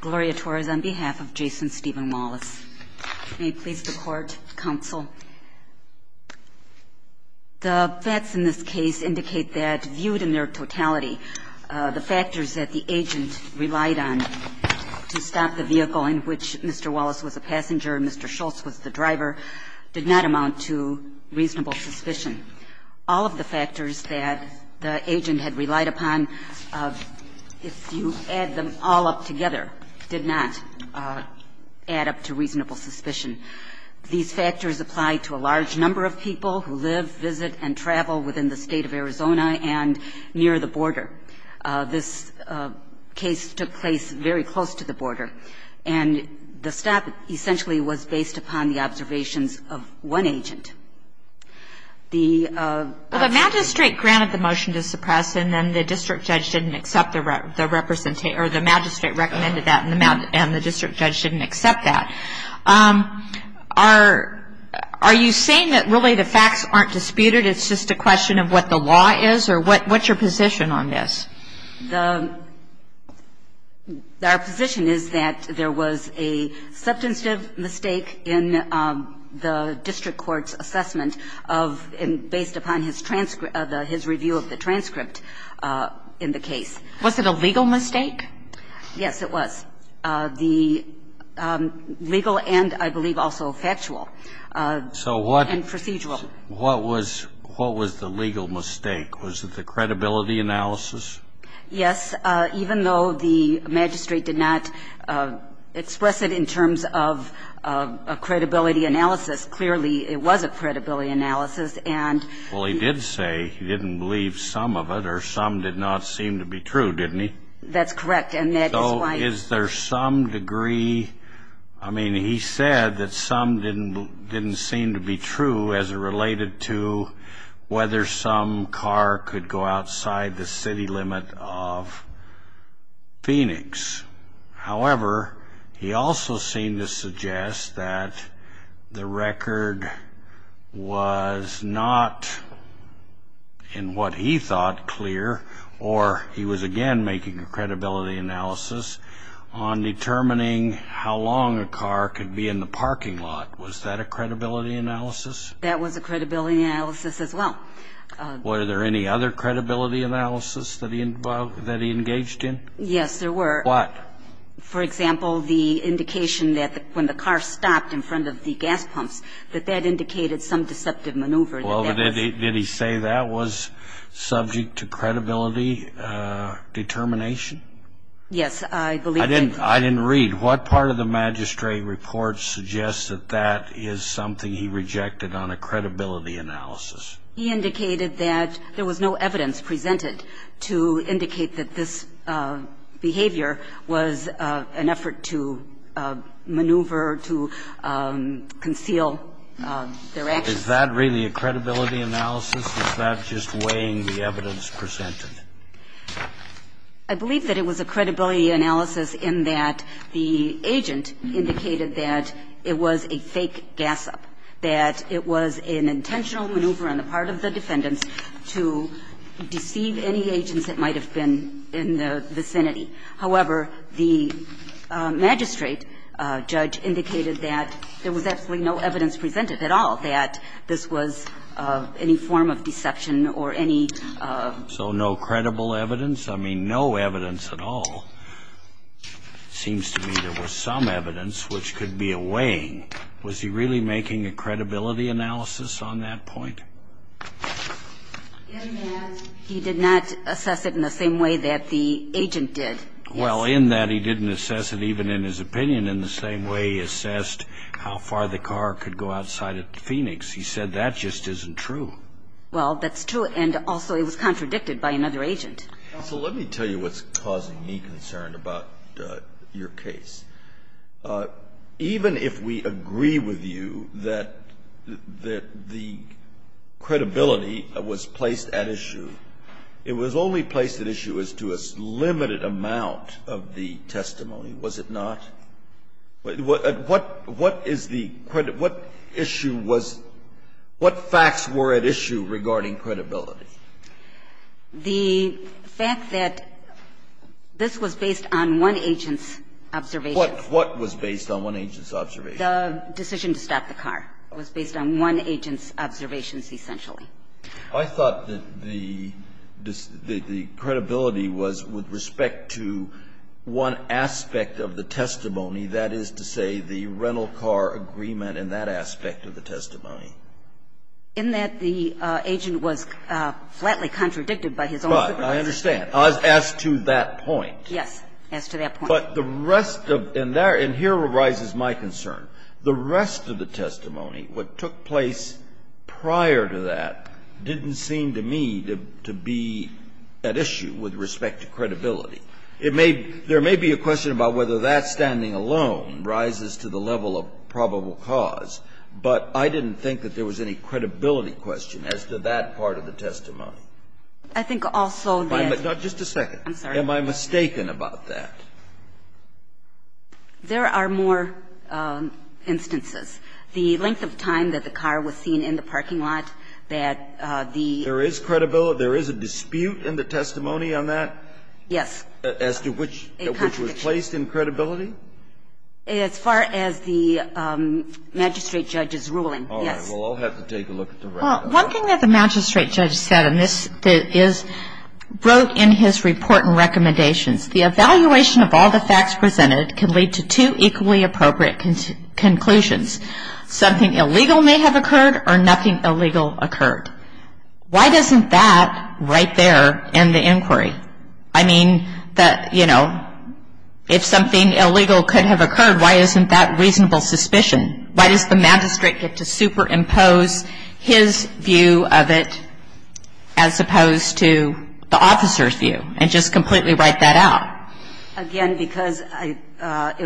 Gloria Torres on behalf of Jason Stephen Wallace. May it please the court, counsel. The facts in this case indicate that viewed in their totality the factors that the agent relied on to stop the vehicle in which Mr. Wallace was a passenger and Mr. Schultz was the driver did not amount to reasonable suspicion. All of the factors that the agent had relied upon, if you add them all up together, did not add up to reasonable suspicion. These factors apply to a large number of people who live, visit, and travel within the State of Arizona and near the border. This case took place very close to the border, and the stop essentially was based upon the observations of one agent. The magistrate granted the motion to suppress, and then the district judge didn't accept the representation, or the magistrate recommended that and the district judge didn't accept that. Are you saying that really the facts aren't disputed, it's just a question of what the law is, or what's your position on this? Our position is that there was a substantive mistake in the district court's assessment of, and based upon his review of the transcript in the case. Was it a legal mistake? Yes, it was. The legal and, I believe, also factual and procedural. So what was the legal mistake? Was it the credibility analysis? Yes, even though the magistrate did not express it in terms of a credibility analysis, clearly it was a credibility analysis. Well, he did say he didn't believe some of it, or some did not seem to be true, didn't he? That's correct, and that is why. Is there some degree, I mean, he said that some didn't seem to be true as it related to whether some car could go outside the city limit of Phoenix. However, he also seemed to suggest that the record was not, in what he thought, clear, or he was again making a credibility analysis on determining how long a car could be in the parking lot. Was that a credibility analysis? That was a credibility analysis as well. Were there any other credibility analysis that he engaged in? Yes, there were. What? For example, the indication that when the car stopped in front of the gas pumps, that that indicated some deceptive maneuver. Well, did he say that was subject to credibility determination? Yes, I believe. I didn't read. What part of the magistrate report suggests that that is something he rejected on a credibility analysis? He indicated that there was no evidence presented to indicate that this behavior was an effort to maneuver, to conceal their actions. Is that really a credibility analysis? Is that just weighing the evidence presented? I believe that it was a credibility analysis in that the agent indicated that it was a fake gas up, that it was an intentional maneuver on the part of the defendants to deceive any agents that might have been in the vicinity. However, the magistrate judge indicated that there was absolutely no evidence presented at all that this was any form of deception or any of. So no credible evidence? I mean, no evidence at all. Seems to me there was some evidence which could be a weighing. Was he really making a credibility analysis on that point? In that he did not assess it in the same way that the agent did. Well, in that he didn't assess it even in his opinion in the same way he assessed how far the car could go outside of Phoenix. He said that just isn't true. Well, that's true. And also, it was contradicted by another agent. Counsel, let me tell you what's causing me concern about your case. Even if we agree with you that the credibility was placed at issue, it was only placed at issue as to a limited amount of the testimony, was it not? What is the issue was what facts were at issue regarding credibility? The fact that this was based on one agent's observation. What was based on one agent's observation? The decision to stop the car was based on one agent's observations, essentially. I thought that the credibility was with respect to one aspect of the testimony, that is to say, the rental car agreement and that aspect of the testimony. In that the agent was flatly contradicted by his own opinion. Right. I understand. As to that point. Yes. As to that point. But the rest of the rest of the testimony, what took place prior to that didn't seem to me to be at issue with respect to credibility. It may be there may be a question about whether that standing alone rises to the level of probable cause, but I didn't think that there was any credibility question as to that part of the testimony. I think also that. Just a second. I'm sorry. Am I mistaken about that? There are more instances. The length of time that the car was seen in the parking lot, that the. There is credibility. There is a dispute in the testimony on that? Yes. As to which was placed in credibility? As far as the magistrate judge's ruling. All right. We'll all have to take a look at the record. One thing that the magistrate judge said, and this is wrote in his report and recommendations. The evaluation of all the facts presented can lead to two equally appropriate conclusions. Something illegal may have occurred or nothing illegal occurred. Why doesn't that right there end the inquiry? I mean, that, you know, if something illegal could have occurred, why isn't that reasonable suspicion? Why does the magistrate get to superimpose his view of it as opposed to the officer's view and just completely write that out? Again, because it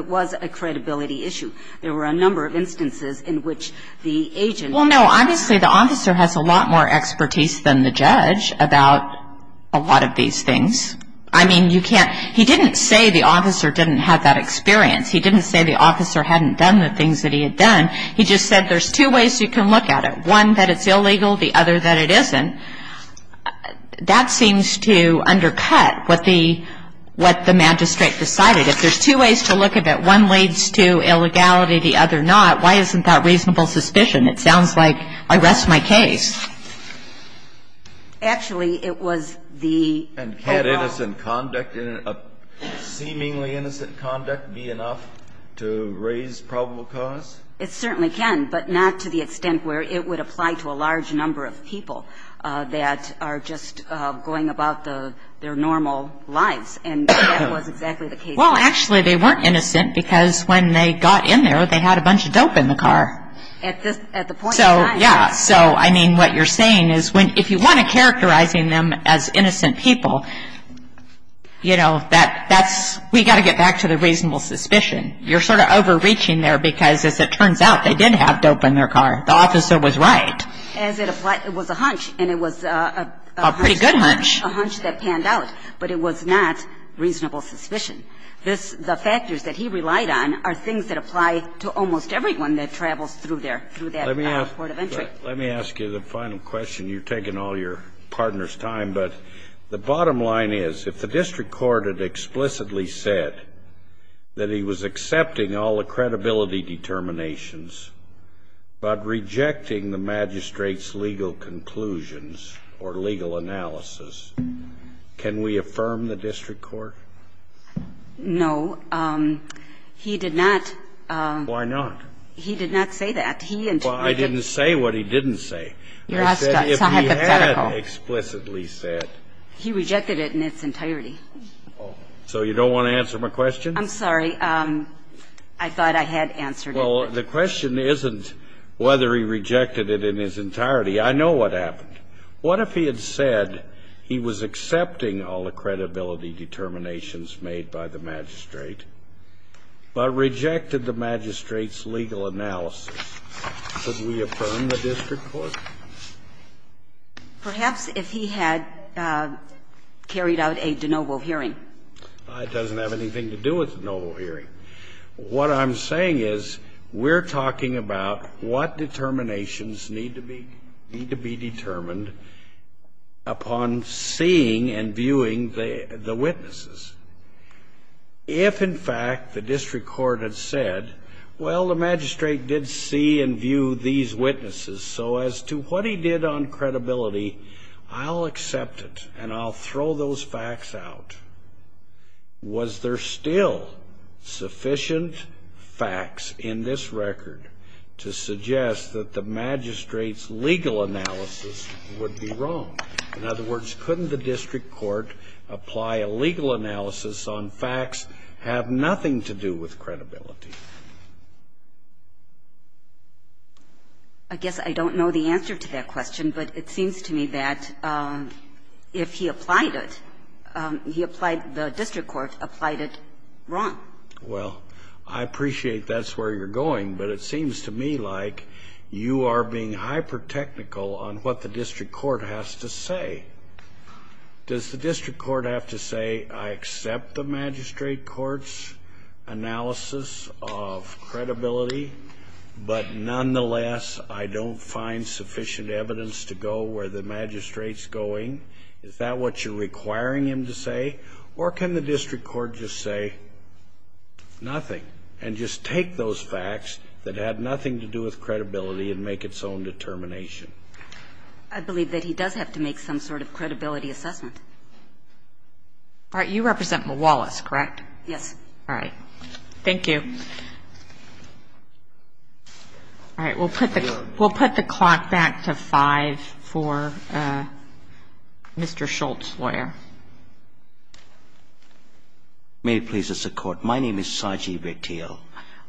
was a credibility issue. There were a number of instances in which the agent. Well, no, obviously the officer has a lot more expertise than the judge about a lot of these things. I mean, you can't. He didn't say the officer didn't have that experience. He didn't say the officer hadn't done the things that he had done. He just said there's two ways you can look at it. One, that it's illegal. The other, that it isn't. That seems to undercut what the magistrate decided. If there's two ways to look at it, one leads to illegality, the other not, why isn't that reasonable suspicion? It sounds like I rest my case. Actually, it was the overall. And can innocent conduct, seemingly innocent conduct, be enough to raise probable cause? It certainly can, but not to the extent where it would apply to a large number of people that are just going about their normal lives, and that was exactly the case. Well, actually, they weren't innocent because when they got in there, they had a bunch of dope in the car. At the point in time. Yeah, so, I mean, what you're saying is if you want to characterize them as innocent people, you know, that's, we've got to get back to the reasonable suspicion. You're sort of overreaching there because as it turns out, they did have dope in their car. The officer was right. As it applies, it was a hunch, and it was a hunch. A pretty good hunch. A hunch that panned out, but it was not reasonable suspicion. This, the factors that he relied on are things that apply to almost everyone that travels through there, through that court of entry. Let me ask you the final question. You're taking all your partner's time, but the bottom line is, if the district court had explicitly said that he was accepting all the credibility determinations but rejecting the magistrate's legal conclusions or legal analysis, can we affirm the district court? No. He did not. Why not? He did not say that. He and you could. Well, I didn't say what he didn't say. You're asking. It's not hypothetical. I said if he had explicitly said. He rejected it in its entirety. So you don't want to answer my question? I'm sorry. I thought I had answered it. Well, the question isn't whether he rejected it in its entirety. I know what happened. What if he had said he was accepting all the credibility determinations made by the magistrate, but rejected the magistrate's legal analysis? Could we affirm the district court? Perhaps if he had carried out a de novo hearing. It doesn't have anything to do with a de novo hearing. What I'm saying is we're talking about what determinations need to be determined upon seeing and viewing the witnesses. If, in fact, the district court had said, well, the magistrate did see and view these witnesses, so as to what he did on credibility, I'll accept it and I'll throw those facts out, was there still sufficient facts in this record to prove that the magistrate would be wrong? In other words, couldn't the district court apply a legal analysis on facts have nothing to do with credibility? I guess I don't know the answer to that question, but it seems to me that if he applied it, he applied the district court, applied it wrong. Well, I appreciate that's where you're going, but it seems to me like you are being hyper-technical on what the district court has to say. Does the district court have to say, I accept the magistrate court's analysis of credibility, but nonetheless, I don't find sufficient evidence to go where the magistrate's going? Is that what you're requiring him to say? Or can the district court just say, nothing, and just take those facts that have nothing to do with credibility and make its own determination? I believe that he does have to make some sort of credibility assessment. All right. You represent Mawalis, correct? Yes. All right. Thank you. All right. We'll put the clock back to 5 for Mr. Schultz, lawyer. May it please the Court. My name is Sajeev Ateel.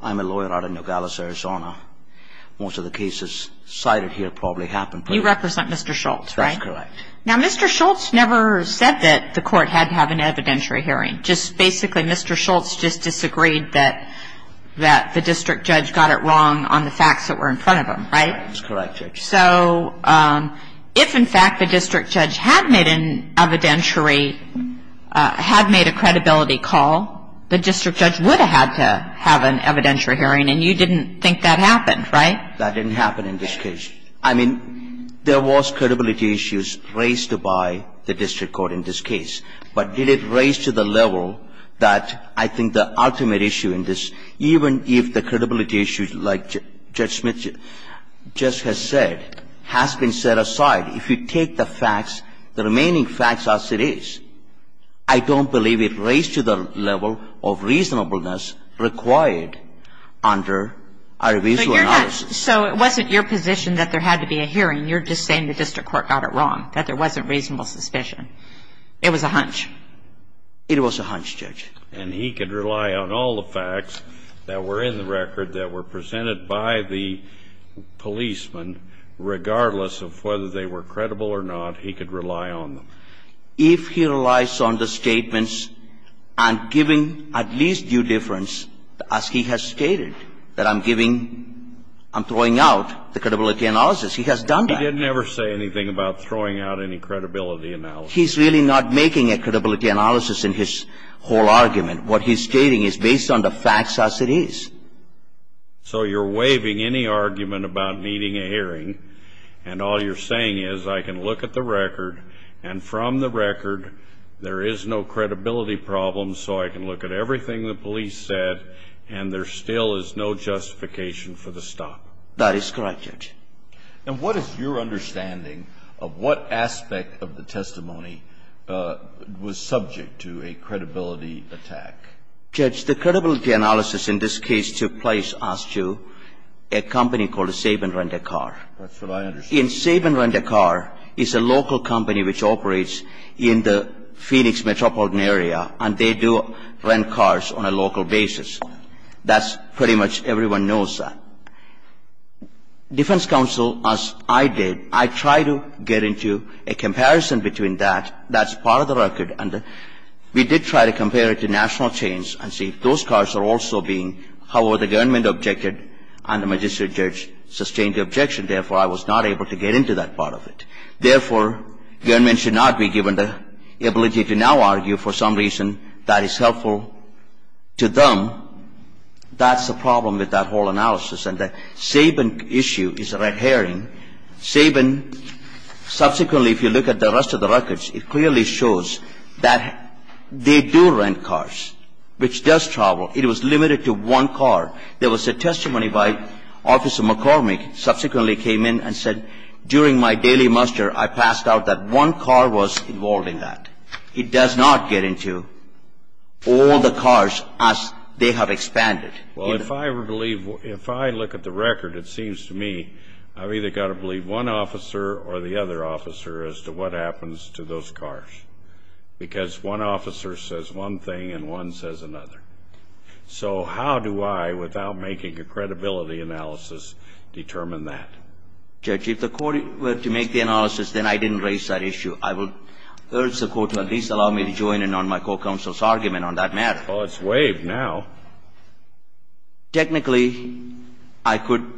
I'm a lawyer out of Nogales, Arizona. Most of the cases cited here probably happened. You represent Mr. Schultz, right? That's correct. Now, Mr. Schultz never said that the court had to have an evidentiary hearing. Just basically, Mr. Schultz just disagreed that the district judge got it wrong on the facts that were in front of him, right? That's correct, Judge. So if, in fact, the district judge had made an evidentiary, had made a credibility call, the district judge would have had to have an evidentiary hearing. And you didn't think that happened, right? That didn't happen in this case. I mean, there was credibility issues raised by the district court in this case. But did it raise to the level that I think the ultimate issue in this, even if the credibility issues like Judge Smith just has said, has been set aside, if you take the facts, the remaining facts as it is, I don't believe it raised to the level of reasonableness required under a revisual analysis. So it wasn't your position that there had to be a hearing. You're just saying the district court got it wrong, that there wasn't reasonable suspicion. It was a hunch. It was a hunch, Judge. And he could rely on all the facts that were in the record that were presented by the policeman, regardless of whether they were credible or not, he could rely on them. If he relies on the statements and giving at least due difference, as he has stated, that I'm giving, I'm throwing out the credibility analysis, he has done that. He didn't ever say anything about throwing out any credibility analysis. He's really not making a credibility analysis in his whole argument. What he's stating is based on the facts as it is. So you're waiving any argument about needing a hearing, and all you're saying is I can look at the record, and from the record, there is no credibility problem, so I can look at everything the police said, and there still is no justification for the stop. That is correct, Judge. And what is your understanding of what aspect of the testimony was subject to a credibility attack? Judge, the credibility analysis in this case took place as to a company called Saban Rent-A-Car. That's what I understand. Saban Rent-A-Car is a local company which operates in the Phoenix metropolitan area, and they do rent cars on a local basis. That's pretty much everyone knows that. Defense counsel, as I did, I tried to get into a comparison between that. That's part of the record, and we did try to compare it to national chains and see if those cars are also being, however, the government objected and the magistrate judge sustained the objection. Therefore, I was not able to get into that part of it. Therefore, government should not be given the ability to now argue for some reason that is helpful to them. That's the problem with that whole analysis, and the Saban issue is a red herring. Saban, subsequently, if you look at the rest of the records, it clearly shows that they do rent cars, which does travel. It was limited to one car. There was a testimony by Officer McCormick, subsequently came in and said, during my daily muster, I passed out that one car was involved in that. It does not get into all the cars as they have expanded. Well, if I were to believe, if I look at the record, it seems to me I've either got to believe one officer or the other officer as to what happens to those cars, because one officer says one thing and one says another. So how do I, without making a credibility analysis, determine that? Judge, if the Court were to make the analysis, then I didn't raise that issue. I would urge the Court to at least allow me to join in on my co-counsel's argument on that matter. Well, it's waived now. Technically, I could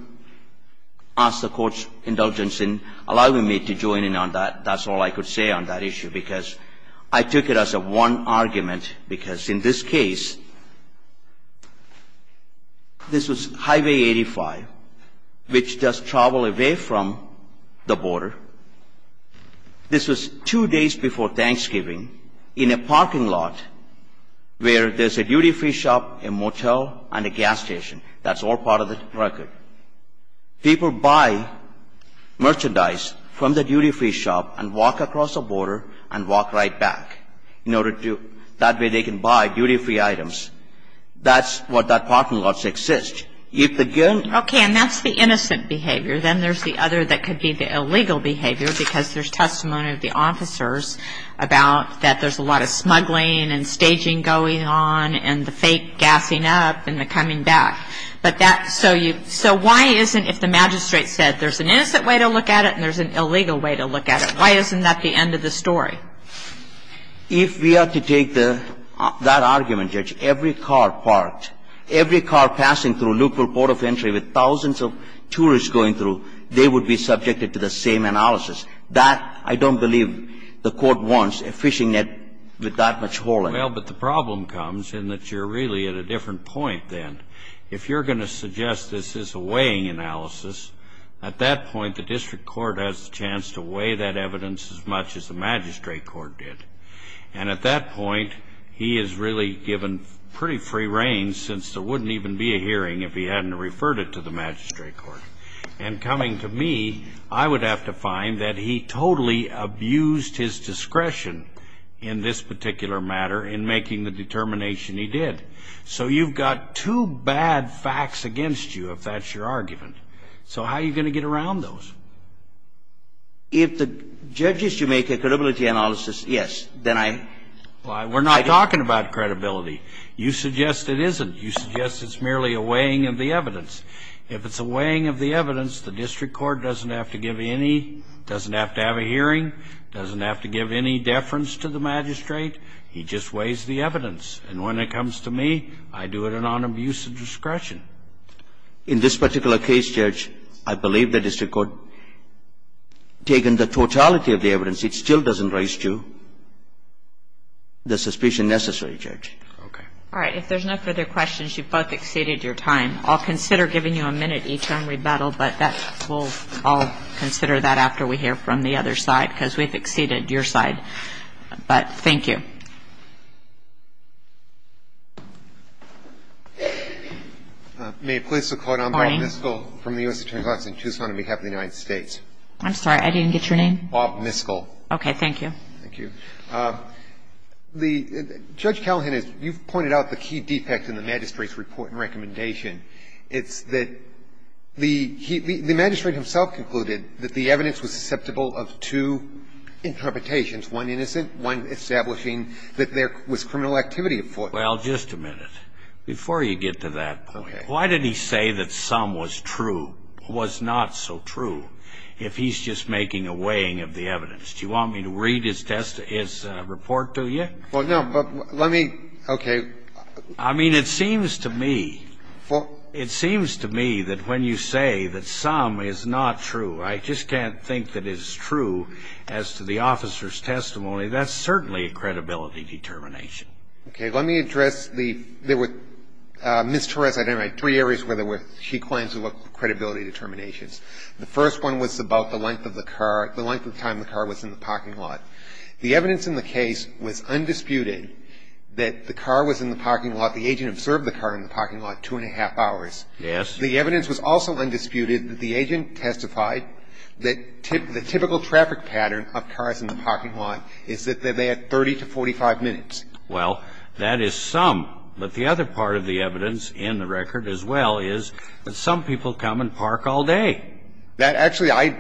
ask the Court's indulgence in allowing me to join in on that. That's all I could say on that issue, because I took it as a one argument, because in this case, this was Highway 85, which does travel away from the border. This was two days before Thanksgiving in a parking lot where there's a duty-free shop, a motel, and a gas station. That's all part of the record. People buy merchandise from the duty-free shop and walk across the border and walk right back in order to, that way they can buy duty-free items. That's what that parking lot exists. If again ---- Okay. And that's the innocent behavior. Then there's the other that could be the illegal behavior, because there's testimony of the officers about that there's a lot of smuggling and staging going on and the fake gassing up and the coming back. But that's so you ---- so why isn't, if the magistrate said there's an innocent way to look at it and there's an illegal way to look at it, why isn't that the end of the story? If we are to take the ---- that argument, Judge, every car parked, every car passing through a local port of entry with thousands of tourists going through, they would be subjected to the same analysis. That, I don't believe the Court wants a fishing net with that much hole in it. Well, but the problem comes in that you're really at a different point then. If you're going to suggest this is a weighing analysis, at that point the district court has a chance to weigh that evidence as much as the magistrate court did. And at that point, he is really given pretty free reign since there wouldn't even be a hearing if he hadn't referred it to the magistrate court. And coming to me, I would have to find that he totally abused his discretion in this particular matter in making the determination he did. So you've got two bad facts against you, if that's your argument. So how are you going to get around those? If the judge is to make a credibility analysis, yes, then I'm ---- Well, we're not talking about credibility. You suggest it isn't. You suggest it's merely a weighing of the evidence. If it's a weighing of the evidence, the district court doesn't have to give any, doesn't have to have a hearing, doesn't have to give any deference to the magistrate. He just weighs the evidence. And when it comes to me, I do it on abuse of discretion. In this particular case, Judge, I believe the district court taken the totality of the evidence. It still doesn't raise to the suspicion necessary, Judge. Okay. All right. If there's no further questions, you've both exceeded your time. I'll consider giving you a minute each on rebuttal, but I'll consider that after we hear from the other side because we've exceeded your side. But thank you. May it please the Court, I'm Bob Miskell from the U.S. Attorney's Office in Tucson on behalf of the United States. I'm sorry, I didn't get your name? Bob Miskell. Okay, thank you. Thank you. Judge Callahan, you've pointed out the key defect in the magistrate's report and recommendation. It's that the magistrate himself concluded that the evidence was susceptible of two interpretations, one innocent, one establishing that there was criminal activity at fault. Well, just a minute. Before you get to that point, why did he say that some was true, was not so true, if he's just making a weighing of the evidence? Do you want me to read his report to you? Well, no, but let me, okay. I mean, it seems to me, it seems to me that when you say that some is not true, I just can't think that it's true as to the officer's testimony, that's certainly a credibility determination. Okay, let me address the, there were, Ms. Torres, I don't know, three areas where she claims there were credibility determinations. The first one was about the length of the car, the length of time the car was in the parking lot. The evidence in the case was undisputed that the car was in the parking lot, the agent observed the car in the parking lot two and a half hours. Yes. The evidence was also undisputed that the agent testified that the typical traffic pattern of cars in the parking lot is that they had 30 to 45 minutes. Well, that is some, but the other part of the evidence in the record as well is that some people come and park all day. That actually, I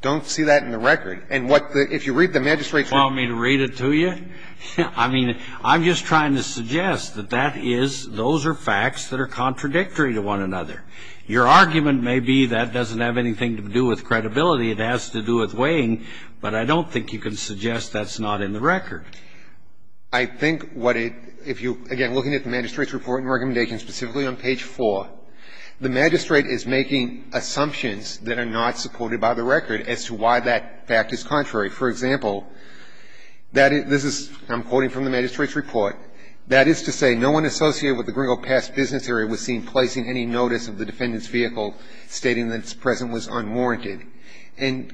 don't see that in the record. And what the, if you read the magistrate's report. You want me to read it to you? I mean, I'm just trying to suggest that that is, those are facts that are contradictory to one another. Your argument may be that doesn't have anything to do with credibility. It has to do with weighing, but I don't think you can suggest that's not in the record. I think what it, if you, again, looking at the magistrate's report and recommendations specifically on page four, the magistrate is making assumptions that are not supported by the record as to why that fact is contrary. For example, that this is, I'm quoting from the magistrate's report, that is to say no one associated with the Gringo Pass business area was seen placing any notice of the defendant's vehicle stating that its presence was unwarranted. And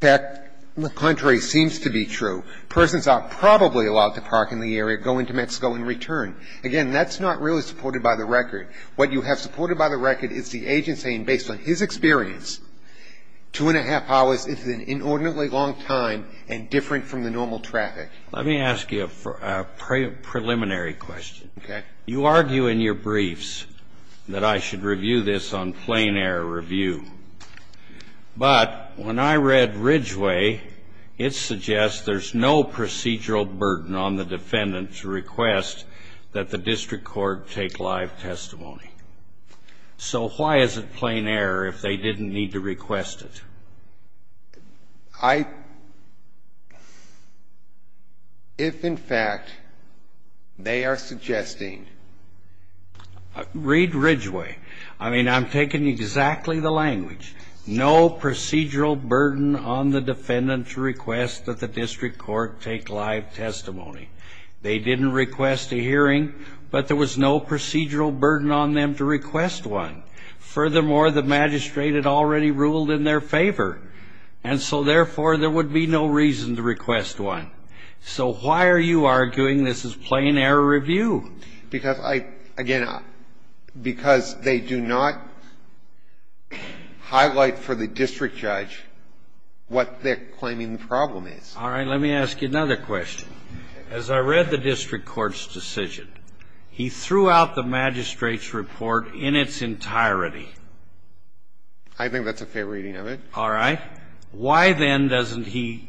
that, on the contrary, seems to be true. Persons are probably allowed to park in the area, go into Mexico and return. Again, that's not really supported by the record. What you have supported by the record is the agent saying, based on his experience, two and a half hours is an inordinately long time and different from the normal traffic. Let me ask you a preliminary question. Okay. You argue in your briefs that I should review this on plain air review. But when I read Ridgeway, it suggests there's no procedural burden on the defendant to request that the district court take live testimony. So why is it plain air if they didn't need to request it? I — if, in fact, they are suggesting — Read Ridgeway. I mean, I'm taking exactly the language. No procedural burden on the defendant to request that the district court take live testimony. They didn't request a hearing, but there was no procedural burden on them to request one. Furthermore, the magistrate had already ruled in their favor. And so, therefore, there would be no reason to request one. So why are you arguing this is plain air review? Because I — again, because they do not highlight for the district judge what they're claiming the problem is. All right. Let me ask you another question. As I read the district court's decision, he threw out the magistrate's report in its entirety. I think that's a fair reading of it. All right. Why, then, doesn't he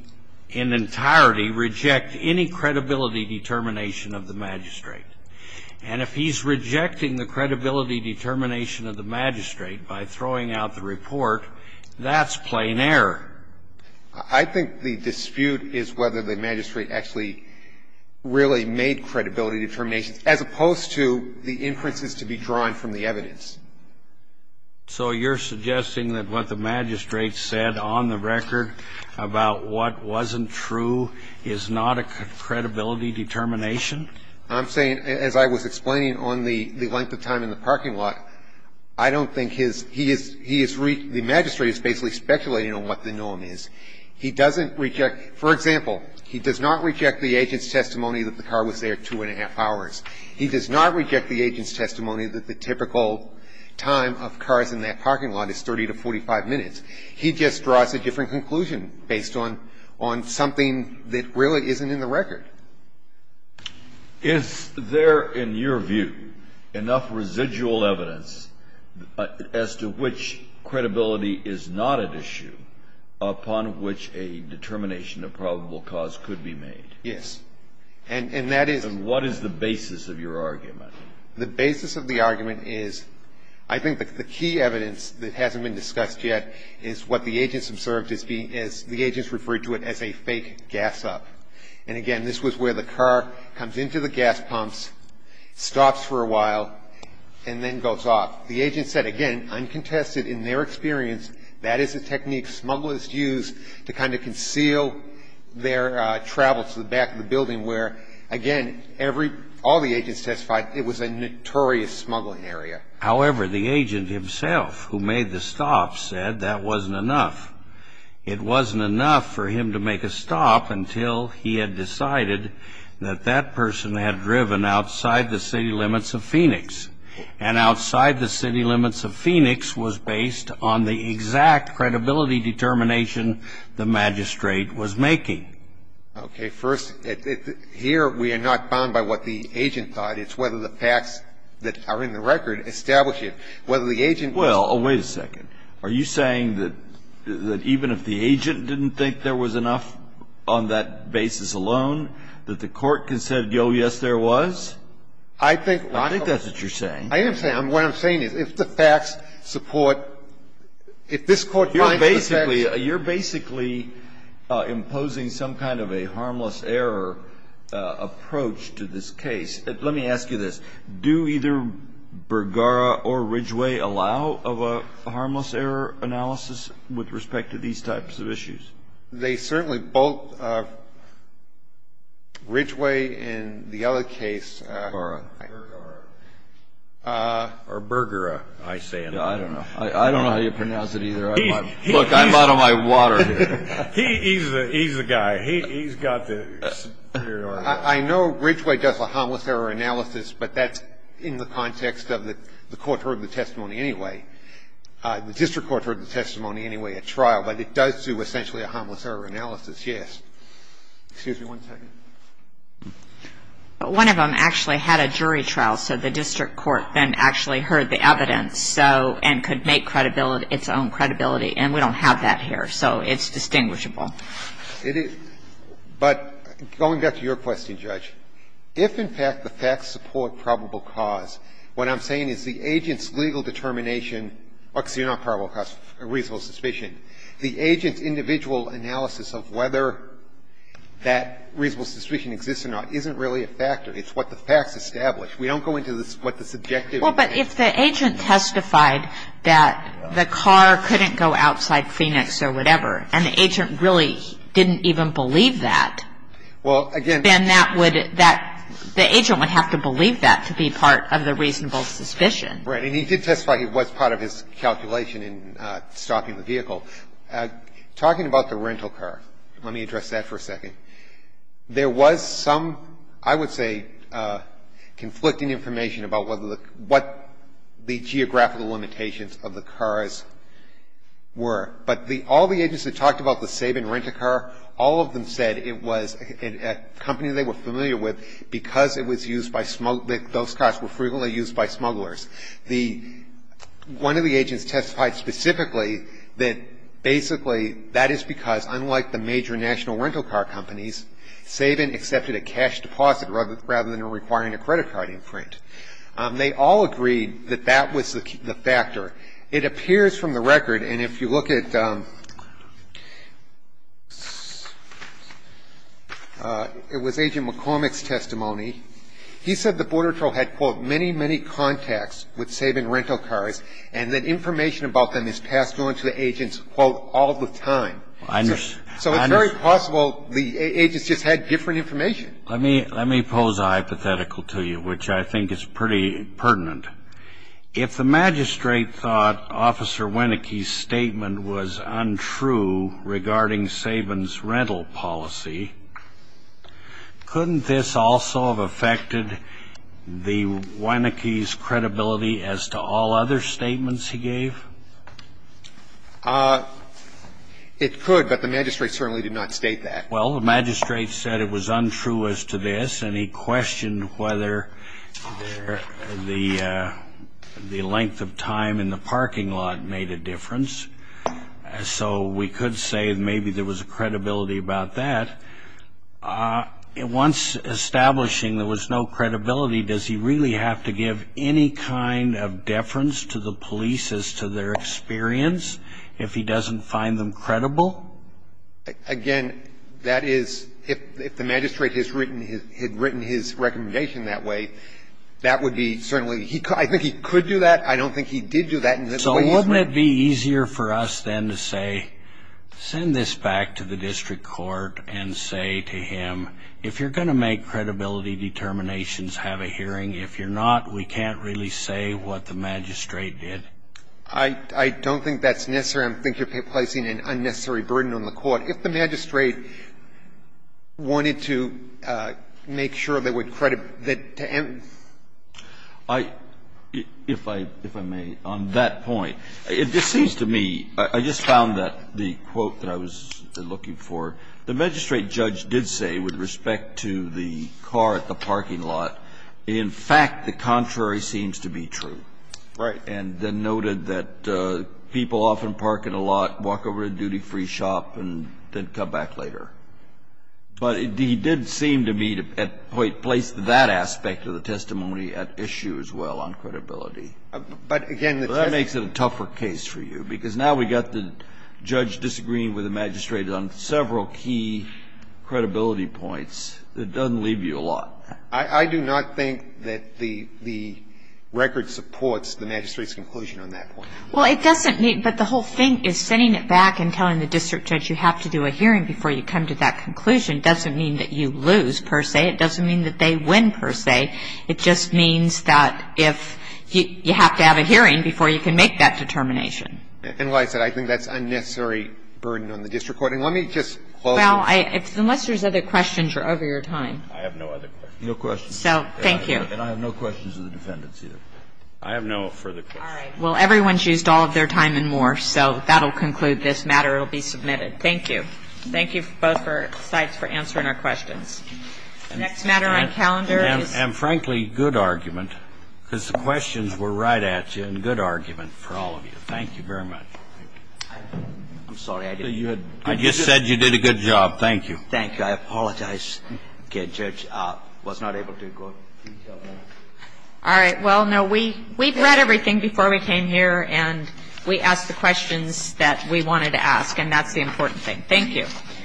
in entirety reject any credibility determination of the magistrate? And if he's rejecting the credibility determination of the magistrate by throwing out the report, that's plain air. I think the dispute is whether the magistrate actually really made credibility determinations, as opposed to the inferences to be drawn from the evidence. So you're suggesting that what the magistrate said on the record about what wasn't true is not a credibility determination? I'm saying, as I was explaining on the length of time in the parking lot, I don't think his — he is — the magistrate is basically speculating on what the norm is. He doesn't reject — for example, he does not reject the agent's testimony that the car was there two and a half hours. He does not reject the agent's testimony that the typical time of cars in that parking lot is 30 to 45 minutes. He just draws a different conclusion based on — on something that really isn't in the record. Is there, in your view, enough residual evidence as to which credibility is not at issue upon which a determination of probable cause could be made? Yes. And that is — And what is the basis of your argument? The basis of the argument is, I think the key evidence that hasn't been discussed yet is what the agents observed as being — as the agents referred to it as a fake gas-up. And again, this was where the car comes into the gas pumps, stops for a while, and then goes off. The agent said, again, uncontested in their experience, that is a technique smugglers use to kind of conceal their travel to the back of the building where, again, every — all the agents testified it was a notorious smuggling area. However, the agent himself who made the stop said that wasn't enough. It wasn't enough for him to make a stop until he had decided that that person had driven outside the city limits of Phoenix. And outside the city limits of Phoenix was based on the exact credibility determination the magistrate was making. Okay. First, here we are not bound by what the agent thought. It's whether the facts that are in the record establish it. Whether the agent was — Well, wait a second. Are you saying that even if the agent didn't think there was enough on that basis alone, that the court can say, oh, yes, there was? I think — I think that's what you're saying. I am saying — what I'm saying is if the facts support — if this Court finds the facts — You're basically — you're basically imposing some kind of a harmless error approach to this case. Let me ask you this. Do either Bergara or Ridgway allow of a harmless error analysis with respect to these types of issues? They certainly both — Ridgway in the other case — Bergara. Bergara. Or Bergera. I say it. I don't know. I don't know how you pronounce it either. Look, I'm out of my water here. He's the guy. He's got the — I know Ridgway does a harmless error analysis, but that's in the context of the court heard the testimony anyway. The district court heard the testimony anyway at trial, but it does do essentially a harmless error analysis, yes. Excuse me one second. One of them actually had a jury trial, so the district court then actually heard the evidence, and could make its own credibility. And we don't have that here, so it's distinguishable. But going back to your question, Judge, if in fact the facts support probable cause, what I'm saying is the agent's legal determination — because you're not probable cause, reasonable suspicion. The agent's individual analysis of whether that reasonable suspicion exists or not isn't really a factor. It's what the facts establish. We don't go into what the subjective is. Well, but if the agent testified that the car couldn't go outside Phoenix or whatever, and the agent really didn't even believe that, then that would — the agent would have to believe that to be part of the reasonable suspicion. Right. And he did testify he was part of his calculation in stopping the vehicle. Talking about the rental car, let me address that for a second. There was some, I would say, conflicting information about what the geographical limitations of the cars were. But the — all the agents that talked about the Sabin rental car, all of them said it was a company they were familiar with because it was used by — those cars were frequently used by smugglers. The — one of the agents testified specifically that basically that is because, unlike the major national rental car companies, Sabin accepted a cash deposit rather than requiring a credit card imprint. They all agreed that that was the factor. Now, if you look at the Bordertrow case, it appears from the record, and if you look at — it was Agent McCormick's testimony. He said the Bordertrow had, quote, many, many contacts with Sabin rental cars, and that information about them is passed on to the agents, quote, all the time. So it's very possible the agents just had different information. Let me pose a hypothetical to you, which I think is pretty pertinent. If the magistrate thought Officer Wieneke's statement was untrue regarding Sabin's rental policy, couldn't this also have affected the — Wieneke's credibility as to all other statements he gave? It could, but the magistrate certainly did not state that. Well, the magistrate said it was untrue as to this, and he questioned whether the length of time in the parking lot made a difference. So we could say maybe there was a credibility about that. Once establishing there was no credibility, does he really have to give any kind of deference to the police as to their experience if he doesn't find them credible? Again, that is, if the magistrate had written his recommendation that way, that would be certainly — I think he could do that. I don't think he did do that. So wouldn't it be easier for us then to say, send this back to the district court and say to him, if you're going to make credibility determinations, have a hearing. If you're not, we can't really say what the magistrate did. I don't think that's necessary. And I think that it would be an unnecessary burden on the court. If the magistrate wanted to make sure they would credit that to em— I — if I may, on that point, it just seems to me — I just found that the quote that I was looking for, the magistrate judge did say with respect to the car at the parking lot, in fact the contrary seems to be true. Right. And then noted that people often park at a lot, walk over to the duty-free shop, and then come back later. But he did seem to me to at point place that aspect of the testimony at issue as well on credibility. But again, the test— That makes it a tougher case for you, because now we've got the judge disagreeing with the magistrate on several key credibility points. It doesn't leave you a lot. I do not think that the record supports the magistrate's conclusion on that point. Well, it doesn't mean — but the whole thing is sending it back and telling the district judge you have to do a hearing before you come to that conclusion doesn't mean that you lose, per se. It doesn't mean that they win, per se. It just means that if you have to have a hearing before you can make that determination. And like I said, I think that's unnecessary burden on the district court. And let me just close on that. Well, unless there's other questions, you're over your time. I have no other questions. No questions. So thank you. And I have no questions of the defendants either. I have no further questions. All right. Well, everyone's used all of their time and more, so that'll conclude this matter. It'll be submitted. Thank you. Thank you both for your insights for answering our questions. Next matter on calendar is — And, frankly, good argument, because the questions were right at you, and good argument for all of you. Thank you very much. I'm sorry. I just said you did a good job. Thank you. I apologize. The judge was not able to go. All right. Well, no, we've read everything before we came here, and we asked the questions that we wanted to ask, and that's the important thing. Thank you.